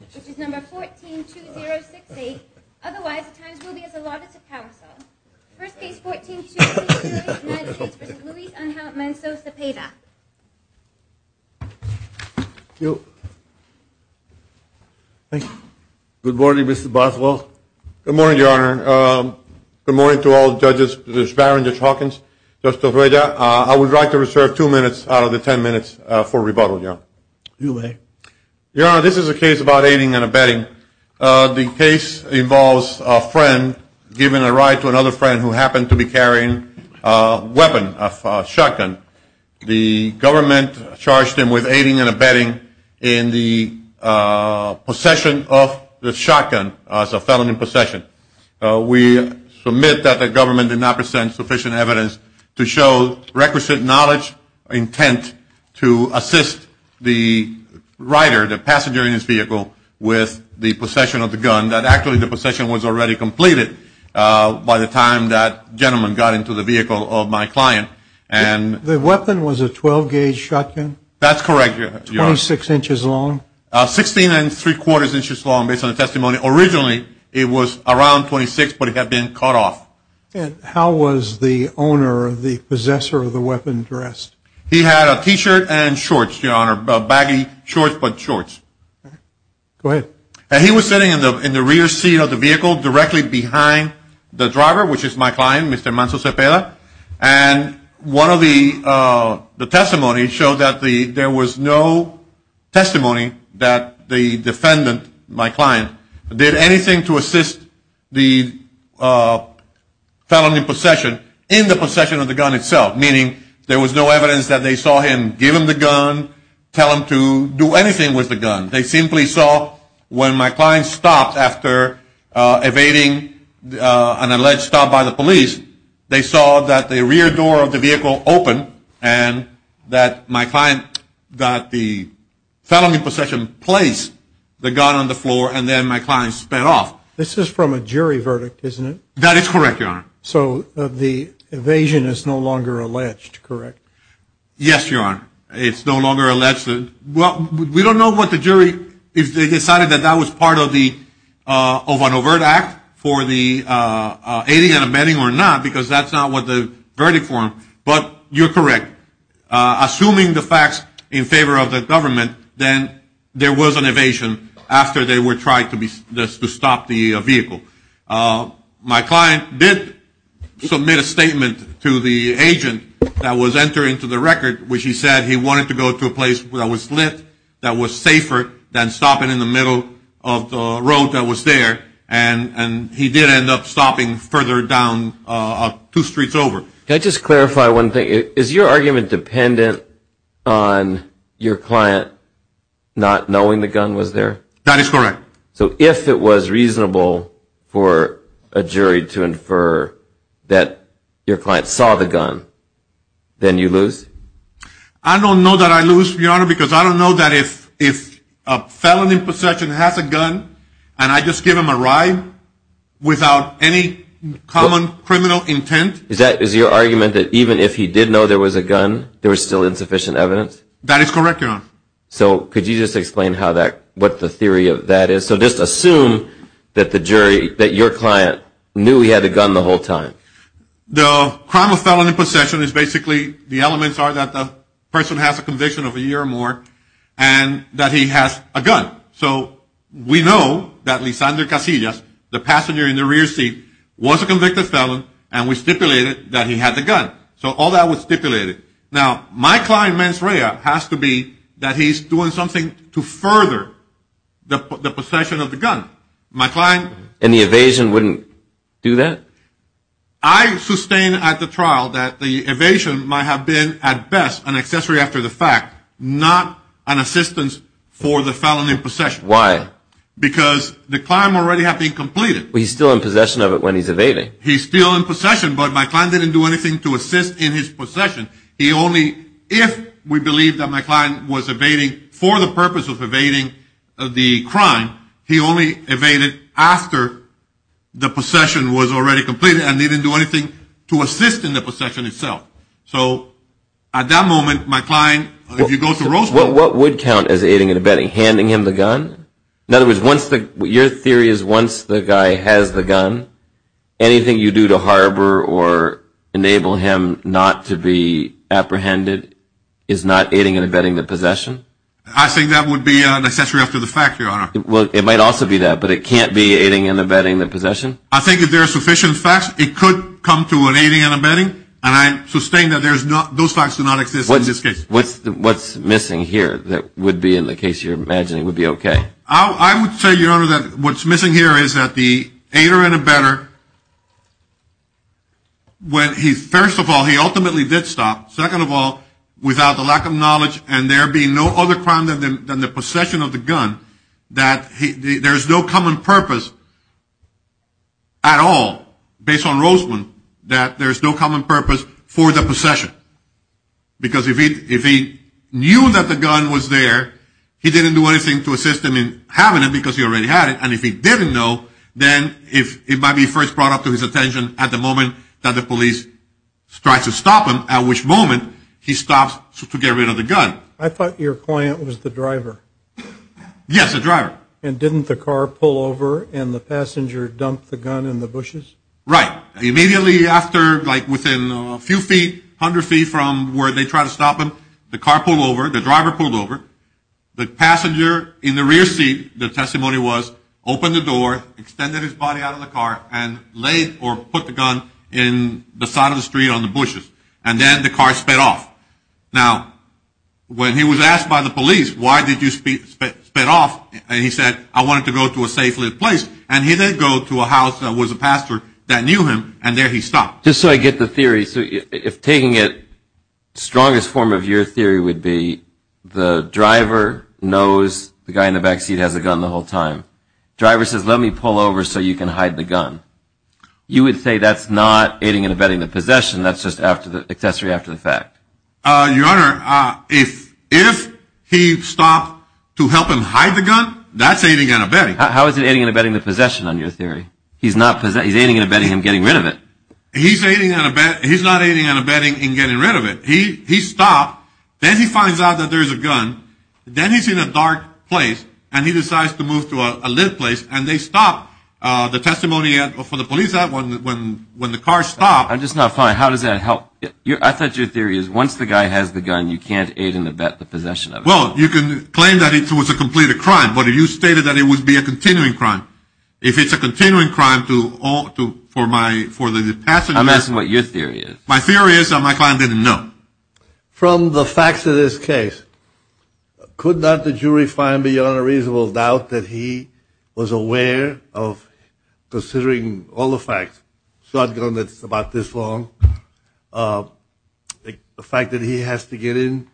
which is number 14-2068. Otherwise, the times will be as allotted to counsel. First case, 14-2068, United States v. Luis Angel Manso-Cepeda. Thank you. Good morning, Mr. Boswell. Good morning, Your Honor. Good morning to all the judges, Judge Barron, Judge Hawkins, Judge Torreda. I would like to reserve two minutes out of the ten minutes for rebuttal, Your Honor. Your Honor, this is a case about aiding and abetting. The case involves a friend giving a ride to another friend who happened to be carrying a weapon, a shotgun. The government charged him with aiding and abetting in the possession of the shotgun as a felony possession. We submit that the government did not present sufficient evidence to show requisite knowledge or intent to assist the rider, the passenger in his vehicle, with the possession of the gun. Actually, the possession was already completed by the time that gentleman got into the vehicle of my client. The weapon was a 12-gauge shotgun? That's correct, Your Honor. 26 inches long? Sixteen and three-quarters inches long based on the testimony. Originally, it was around 26, but it had been cut off. And how was the owner or the possessor of the weapon dressed? He had a T-shirt and shorts, Your Honor. Baggy shorts, but shorts. Go ahead. And he was sitting in the rear seat of the vehicle directly behind the driver, which is my client, Mr. Manso Cepeda. And one of the testimonies showed that there was no testimony that the defendant, my client, did anything to assist the felony possession in the possession of the gun itself, meaning there was no evidence that they saw him give him the gun, tell him to do anything with the gun. They simply saw when my client stopped after evading an alleged stop by the police, they saw that the rear door of the vehicle opened and that my client got the felony possession, placed the gun on the floor, and then my client sped off. This is from a jury verdict, isn't it? That is correct, Your Honor. So the evasion is no longer alleged, correct? Yes, Your Honor. It's no longer alleged. Well, we don't know what the jury, if they decided that that was part of an overt act for the aiding and abetting or not, because that's not what the verdict formed, but you're correct. Assuming the facts in favor of the government, then there was an evasion after they were trying to stop the vehicle. My client did submit a statement to the agent that was entering into the record, which he said he wanted to go to a place that was lit, that was safer than stopping in the middle of the road that was there, and he did end up stopping further down two streets over. Can I just clarify one thing? Is your argument dependent on your client not knowing the gun was there? That is correct. So if it was reasonable for a jury to infer that your client saw the gun, then you lose? I don't know that I lose, Your Honor, because I don't know that if a felon in possession has a gun and I just give him a ride without any common criminal intent. Is your argument that even if he did know there was a gun, there was still insufficient evidence? That is correct, Your Honor. So could you just explain what the theory of that is? So just assume that your client knew he had a gun the whole time. The crime of felon in possession is basically the elements are that the person has a conviction of a year or more and that he has a gun. So we know that Lisandre Casillas, the passenger in the rear seat, was a convicted felon, and we stipulated that he had the gun. So all that was stipulated. Now, my client, Mansouria, has to be that he's doing something to further the possession of the gun. My client... And the evasion wouldn't do that? I sustain at the trial that the evasion might have been, at best, an accessory after the fact, not an assistance for the felon in possession. Why? Because the crime already had been completed. But he's still in possession of it when he's evading. He's still in possession, but my client didn't do anything to assist in his possession. He only, if we believe that my client was evading for the purpose of evading the crime, he only evaded after the possession was already completed and he didn't do anything to assist in the possession itself. So at that moment, my client... What would count as aiding and abetting, handing him the gun? In other words, your theory is once the guy has the gun, anything you do to harbor or enable him not to be apprehended is not aiding and abetting the possession? I think that would be an accessory after the fact, Your Honor. Well, it might also be that, but it can't be aiding and abetting the possession? I think if there are sufficient facts, it could come to an aiding and abetting, and I sustain that those facts do not exist in this case. What's missing here that would be in the case you're imagining would be okay? I would say, Your Honor, that what's missing here is that the aider and abetter, when he, first of all, he ultimately did stop, second of all, without the lack of knowledge and there being no other crime than the possession of the gun, that there's no common purpose at all, based on Roseman, that there's no common purpose for the possession. Because if he knew that the gun was there, he didn't do anything to assist him in having it because he already had it, and if he didn't know, then it might be first brought up to his attention at the moment that the police tried to stop him, at which moment he stopped to get rid of the gun. I thought your client was the driver? Yes, the driver. And didn't the car pull over and the passenger dump the gun in the bushes? Right. Immediately after, like within a few feet, 100 feet from where they tried to stop him, the car pulled over, the driver pulled over, the passenger in the rear seat, the testimony was, opened the door, extended his body out of the car, and laid or put the gun in the side of the street on the bushes, and then the car sped off. Now, when he was asked by the police, why did you sped off? And he said, I wanted to go to a safe place, and he did go to a house that was a pastor that knew him, and there he stopped. Just so I get the theory, so if taking it, strongest form of your theory would be, the driver knows the guy in the back seat has a gun the whole time. Driver says, let me pull over so you can hide the gun. You would say that's not aiding and abetting the possession, that's just accessory after the fact. Your Honor, if he stopped to help him hide the gun, that's aiding and abetting. How is it aiding and abetting the possession on your theory? He's not aiding and abetting him getting rid of it. He's not aiding and abetting him getting rid of it. He stopped, then he finds out that there's a gun, then he's in a dark place, and he decides to move to a lit place, and they stop the testimony for the police when the car stopped. I'm just not fine. How does that help? I thought your theory is once the guy has the gun, you can't aid and abet the possession of it. Well, you can claim that it was a completed crime, but if you stated that it would be a continuing crime, if it's a continuing crime for the passenger... I'm asking what your theory is. My theory is that my client didn't know. From the facts of this case, could not the jury find beyond a reasonable doubt that he was aware of considering all the facts? Shotgun that's about this long, the fact that he has to get in,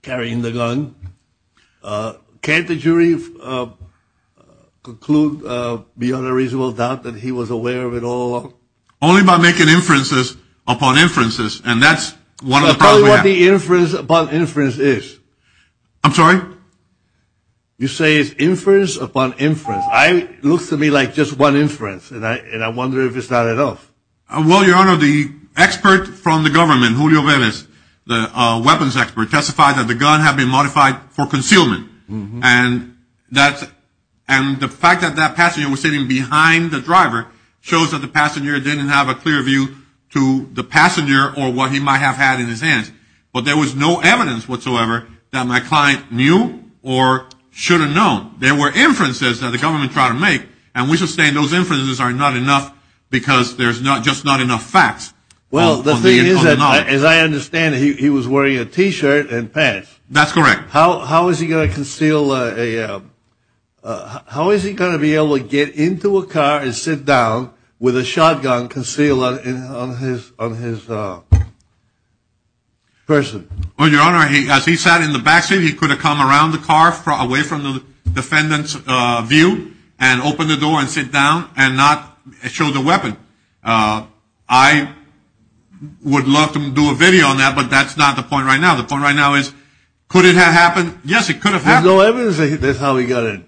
carrying the gun. Can't the jury conclude beyond a reasonable doubt that he was aware of it all along? Only by making inferences upon inferences, and that's... That's probably what the inference upon inference is. I'm sorry? You say it's inference upon inference. It looks to me like just one inference, and I wonder if it's not enough. Well, Your Honor, the expert from the government, Julio Velez, the weapons expert, testified that the gun had been modified for concealment. And the fact that that passenger was sitting behind the driver shows that the passenger didn't have a clear view to the passenger or what he might have had in his hands. But there was no evidence whatsoever that my client knew or should have known. There were inferences that the government tried to make, and we sustain those inferences are not enough because there's just not enough facts. Well, the thing is that, as I understand it, he was wearing a T-shirt and pants. That's correct. How is he going to conceal a... How is he going to be able to get into a car and sit down with a shotgun concealed on his person? Well, Your Honor, as he sat in the back seat, he could have come around the car away from the defendant's view and open the door and sit down and not show the weapon. I would love to do a video on that, but that's not the point right now. The point right now is could it have happened? Yes, it could have happened. There's no evidence that that's how he got in.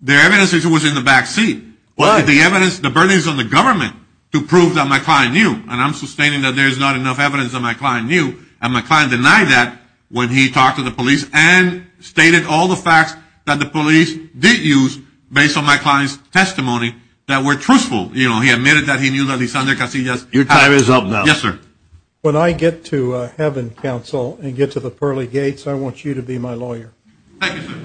There's evidence that he was in the back seat. But the evidence, the burden is on the government to prove that my client knew. And I'm sustaining that there's not enough evidence that my client knew. And my client denied that when he talked to the police and stated all the facts that the police did use based on my client's testimony that were truthful. You know, he admitted that he knew that Lysander Casillas had... Your time is up now. Yes, sir. When I get to heaven, counsel, and get to the pearly gates, I want you to be my lawyer. Thank you, sir.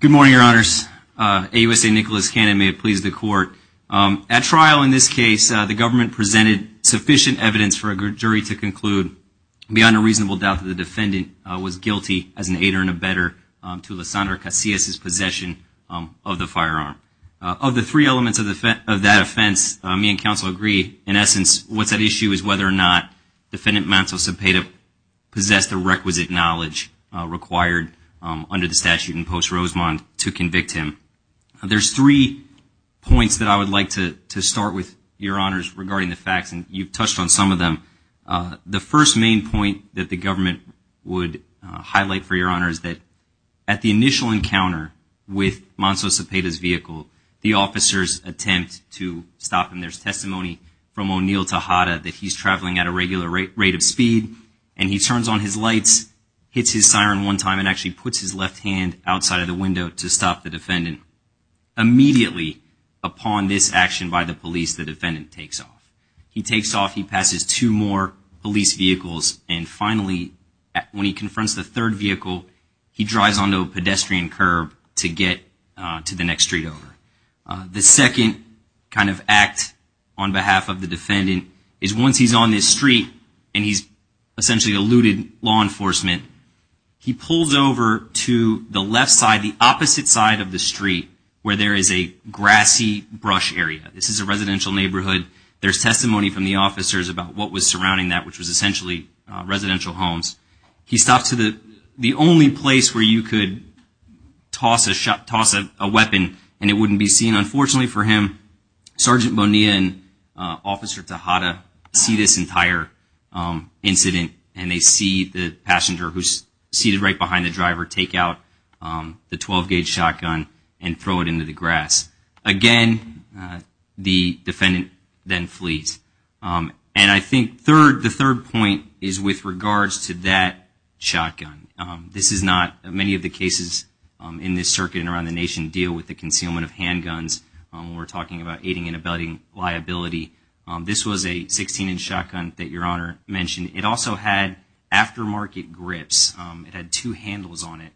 Good morning, Your Honors. AUSA Nicholas Cannon, may it please the court. At trial in this case, the government presented sufficient evidence for a jury to conclude, beyond a reasonable doubt, that the defendant was guilty as an aider and abetter to Lysander Casillas' possession of the firearm. Of the three elements of that offense, me and counsel agree. In essence, what's at issue is whether or not Defendant Manto-Cepeda possessed the requisite knowledge required under the statute in Post-Rosemont to convict him. There's three points that I would like to start with, Your Honors, regarding the facts, and you've touched on some of them. The first main point that the government would highlight, for Your Honors, that at the initial encounter with Manto-Cepeda's vehicle, the officers attempt to stop him. There's testimony from O'Neill Tejada that he's traveling at a regular rate of speed, and he turns on his lights, hits his siren one time, and actually puts his left hand outside of the window to stop the defendant. Immediately upon this action by the police, the defendant takes off. He takes off, he passes two more police vehicles, and finally, when he confronts the third vehicle, he drives onto a pedestrian curb to get to the next street over. The second kind of act on behalf of the defendant is once he's on this street, and he's essentially a looted law enforcement, he pulls over to the left side, the opposite side of the street, where there is a grassy brush area. This is a residential neighborhood. There's testimony from the officers about what was surrounding that, which was essentially residential homes. He stops at the only place where you could toss a weapon, and it wouldn't be seen. Unfortunately for him, Sergeant Bonilla and Officer Tejada see this entire incident, and they see the passenger who's seated right behind the driver take out the 12-gauge shotgun and throw it into the grass. Again, the defendant then flees. And I think the third point is with regards to that shotgun. Many of the cases in this circuit and around the nation deal with the concealment of handguns. We're talking about aiding and abetting liability. This was a 16-inch shotgun that Your Honor mentioned. It also had aftermarket grips. It had two handles on it,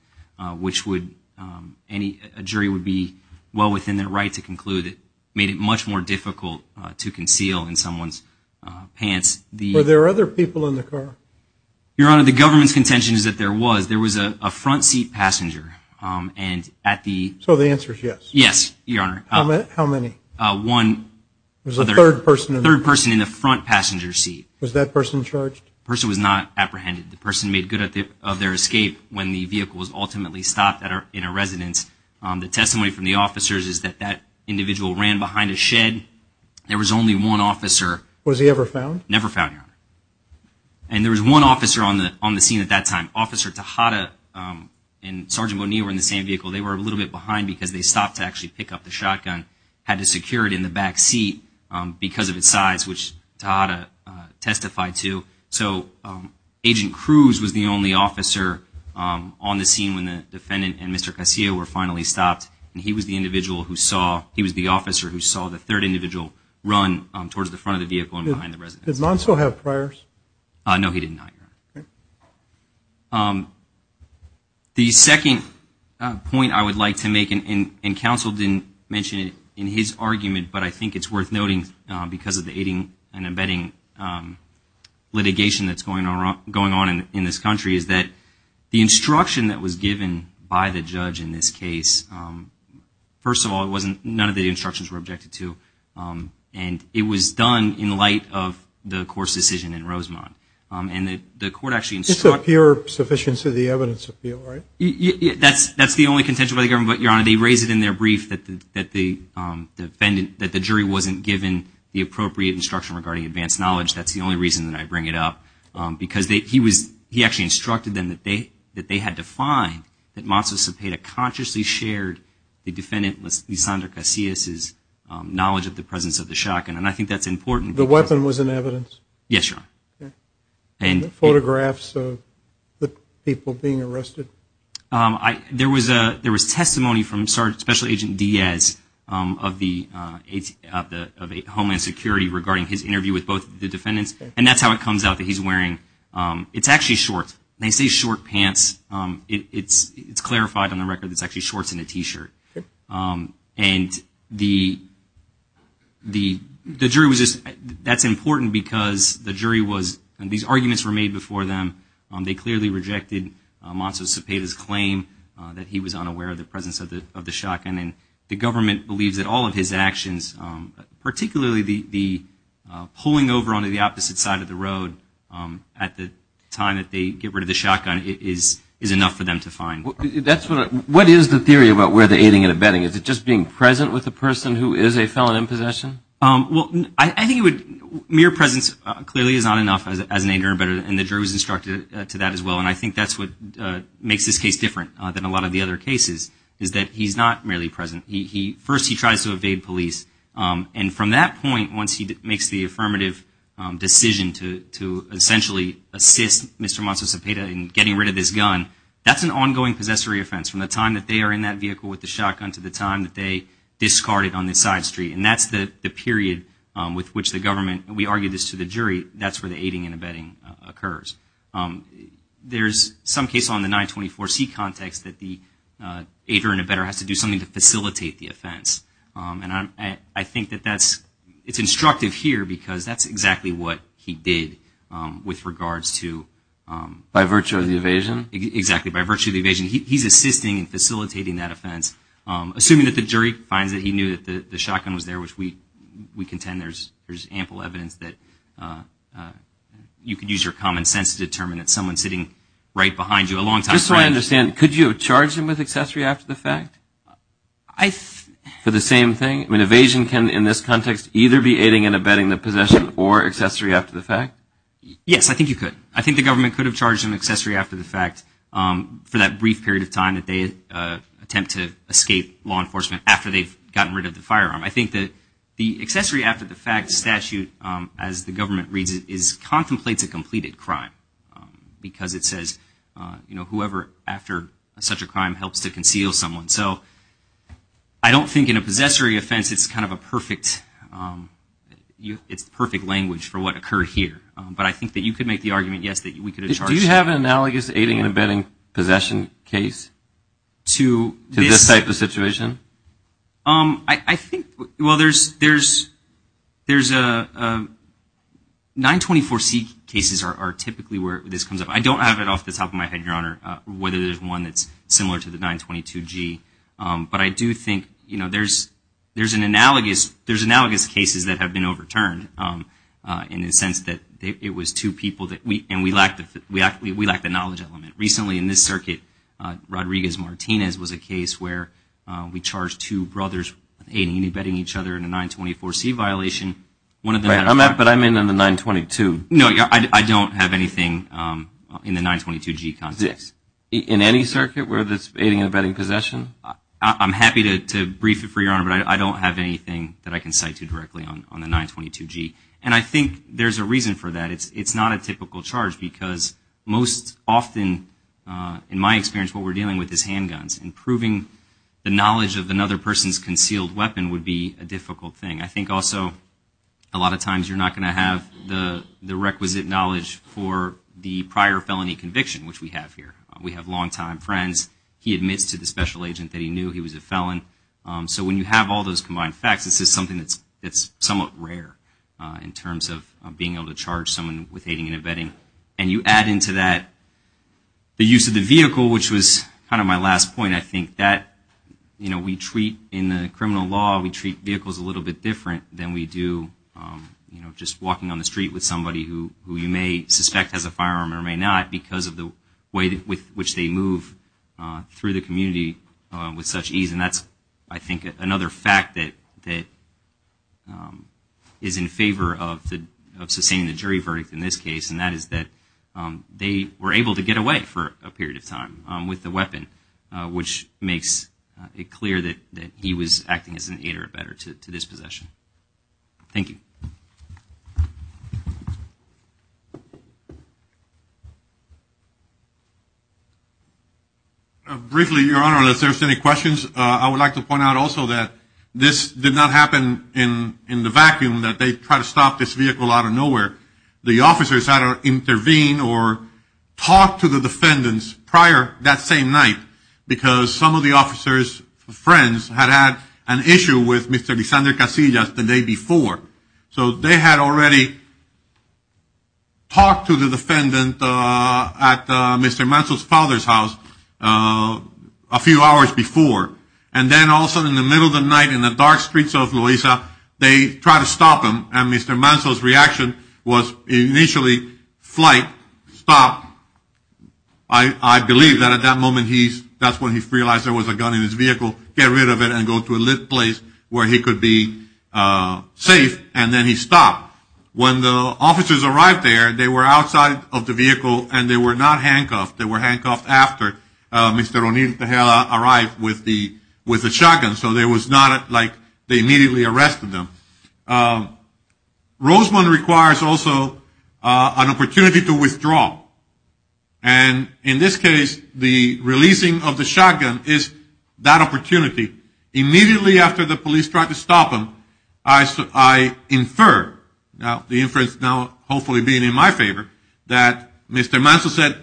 which a jury would be well within their right to conclude made it much more difficult to conceal in someone's pants. Were there other people in the car? Your Honor, the government's contention is that there was. There was a front-seat passenger. So the answer is yes? Yes, Your Honor. How many? One. There was a third person in the car? A third person in the front passenger seat. Was that person charged? The person was not apprehended. The person made good of their escape when the vehicle was ultimately stopped in a residence. The testimony from the officers is that that individual ran behind a shed. There was only one officer. Was he ever found? Never found, Your Honor. And there was one officer on the scene at that time. Officer Tejada and Sergeant Bonilla were in the same vehicle. They were a little bit behind because they stopped to actually pick up the shotgun, had to secure it in the back seat because of its size, which Tejada testified to. So Agent Cruz was the only officer on the scene when the defendant and Mr. Cascio were finally stopped, and he was the individual who saw, he was the officer who saw the third individual run towards the front of the vehicle and behind the residence. Did Monso have priors? No, he did not, Your Honor. The second point I would like to make, and counsel didn't mention it in his argument, but I think it's worth noting because of the aiding and abetting litigation that's going on in this country is that the instruction that was given by the judge in this case, first of all, none of the instructions were objected to, and it was done in light of the course decision in Rosemont. It's a pure sufficiency of the evidence appeal, right? That's the only contention by the government, but, Your Honor, they raised it in their brief that the jury wasn't given the appropriate instruction regarding advanced knowledge. That's the only reason that I bring it up, because he actually instructed them that they had to find that Monso Cepeda consciously shared the defendant, Lysander Cascio's, knowledge of the presence of the shotgun, and I think that's important. The weapon was in evidence? Yes, Your Honor. And photographs of the people being arrested? There was testimony from Special Agent Diaz of Homeland Security regarding his interview with both the defendants, and that's how it comes out that he's wearing, it's actually shorts. They say short pants. It's clarified on the record that it's actually shorts and a T-shirt. And the jury was just, that's important because the jury was, and these arguments were made before them. They clearly rejected Monso Cepeda's claim that he was unaware of the presence of the shotgun, and the government believes that all of his actions, particularly the pulling over onto the opposite side of the road at the time that they get rid of the shotgun, is enough for them to find. That's what I, what is the theory about where the aiding and abetting? Is it just being present with the person who is a felon in possession? Well, I think it would, mere presence clearly is not enough as an aider, and the jury was instructed to that as well, and I think that's what makes this case different than a lot of the other cases, is that he's not merely present. First he tries to evade police, and from that point once he makes the affirmative decision to essentially assist Mr. Monso Cepeda in getting rid of this gun, that's an ongoing possessory offense. From the time that they are in that vehicle with the shotgun to the time that they discard it on the side street, that's where the aiding and abetting occurs. There's some case on the 924C context that the aider and abetter has to do something to facilitate the offense, and I think that that's, it's instructive here because that's exactly what he did with regards to... By virtue of the evasion? Exactly, by virtue of the evasion. He's assisting and facilitating that offense, assuming that the jury finds that he knew that the shotgun was there, which we contend there's ample evidence that you can use your common sense to determine that someone sitting right behind you a long time... Just so I understand, could you have charged him with accessory after the fact? I... For the same thing? I mean, evasion can in this context either be aiding and abetting the possession or accessory after the fact? Yes, I think you could. I think the government could have charged him with accessory after the fact for that brief period of time that they attempt to escape law enforcement after they've gotten rid of the firearm. I think that the accessory after the fact statute, as the government reads it, is contemplates a completed crime because it says, you know, whoever after such a crime helps to conceal someone. So I don't think in a possessory offense it's kind of a perfect language for what occurred here, but I think that you could make the argument, yes, that we could have charged... Do you have an analogous aiding and abetting possession case to this type of situation? I think, well, there's a... 924C cases are typically where this comes up. I don't have it off the top of my head, Your Honor, whether there's one that's similar to the 922G, but I do think, you know, there's an analogous cases that have been overturned in the sense that it was two people and we lack the knowledge element. Recently in this circuit, Rodriguez-Martinez was a case where we charged two brothers with aiding and abetting each other in a 924C violation. Right, but I'm in on the 922. No, I don't have anything in the 922G context. In any circuit where there's aiding and abetting possession? I'm happy to brief it for you, Your Honor, but I don't have anything that I can cite to you directly on the 922G. And I think there's a reason for that. It's not a typical charge because most often, in my experience, what we're dealing with is handguns, and proving the knowledge of another person's concealed weapon would be a difficult thing. I think also a lot of times you're not going to have the requisite knowledge for the prior felony conviction, which we have here. We have longtime friends. He admits to the special agent that he knew he was a felon. So when you have all those combined facts, this is something that's somewhat rare in terms of being able to charge someone with aiding and abetting. And you add into that the use of the vehicle, which was kind of my last point. I think that, you know, we treat in the criminal law, we treat vehicles a little bit different than we do, you know, just walking on the street with somebody who you may suspect has a firearm or may not because of the way with which they move through the community with such ease. And that's, I think, another fact that is in favor of sustaining the jury verdict in this case, and that is that they were able to get away for a period of time with the weapon, which makes it clear that he was acting as an aid or abetter to this possession. Thank you. Briefly, Your Honor, unless there's any questions, I would like to point out also that this did not happen in the vacuum, that they tried to stop this vehicle out of nowhere. The officers had to intervene or talk to the defendants prior that same night because some of the officers' friends had had an issue with Mr. Cassidy just the day before. So they had already talked to the defendant at Mr. Manso's father's house a few hours before, and then also in the middle of the night in the dark streets of Loiza, they tried to stop him, and Mr. Manso's reaction was initially flight, stop. I believe that at that moment, that's when he realized there was a gun in his vehicle, get rid of it, and go to a lit place where he could be safe, and then he stopped. When the officers arrived there, they were outside of the vehicle, and they were not handcuffed. They were handcuffed after Mr. O'Neill Tejeda arrived with the shotgun, so it was not like they immediately arrested them. And in this case, the releasing of the shotgun is that opportunity. Immediately after the police tried to stop him, I inferred, the inference now hopefully being in my favor, that Mr. Manso said,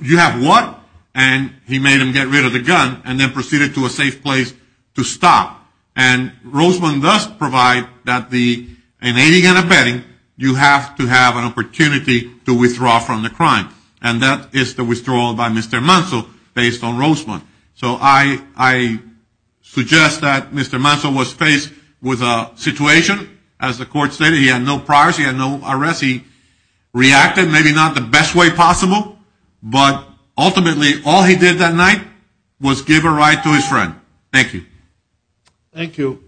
you have what? And he made him get rid of the gun and then proceeded to a safe place to stop. And Rosemond does provide that in aiding and abetting, you have to have an opportunity to withdraw from the crime, and that is the withdrawal by Mr. Manso based on Rosemond. So I suggest that Mr. Manso was faced with a situation. As the court stated, he had no priority and no arrest. He reacted, maybe not the best way possible, but ultimately all he did that night was give a ride to his friend. Thank you. Thank you.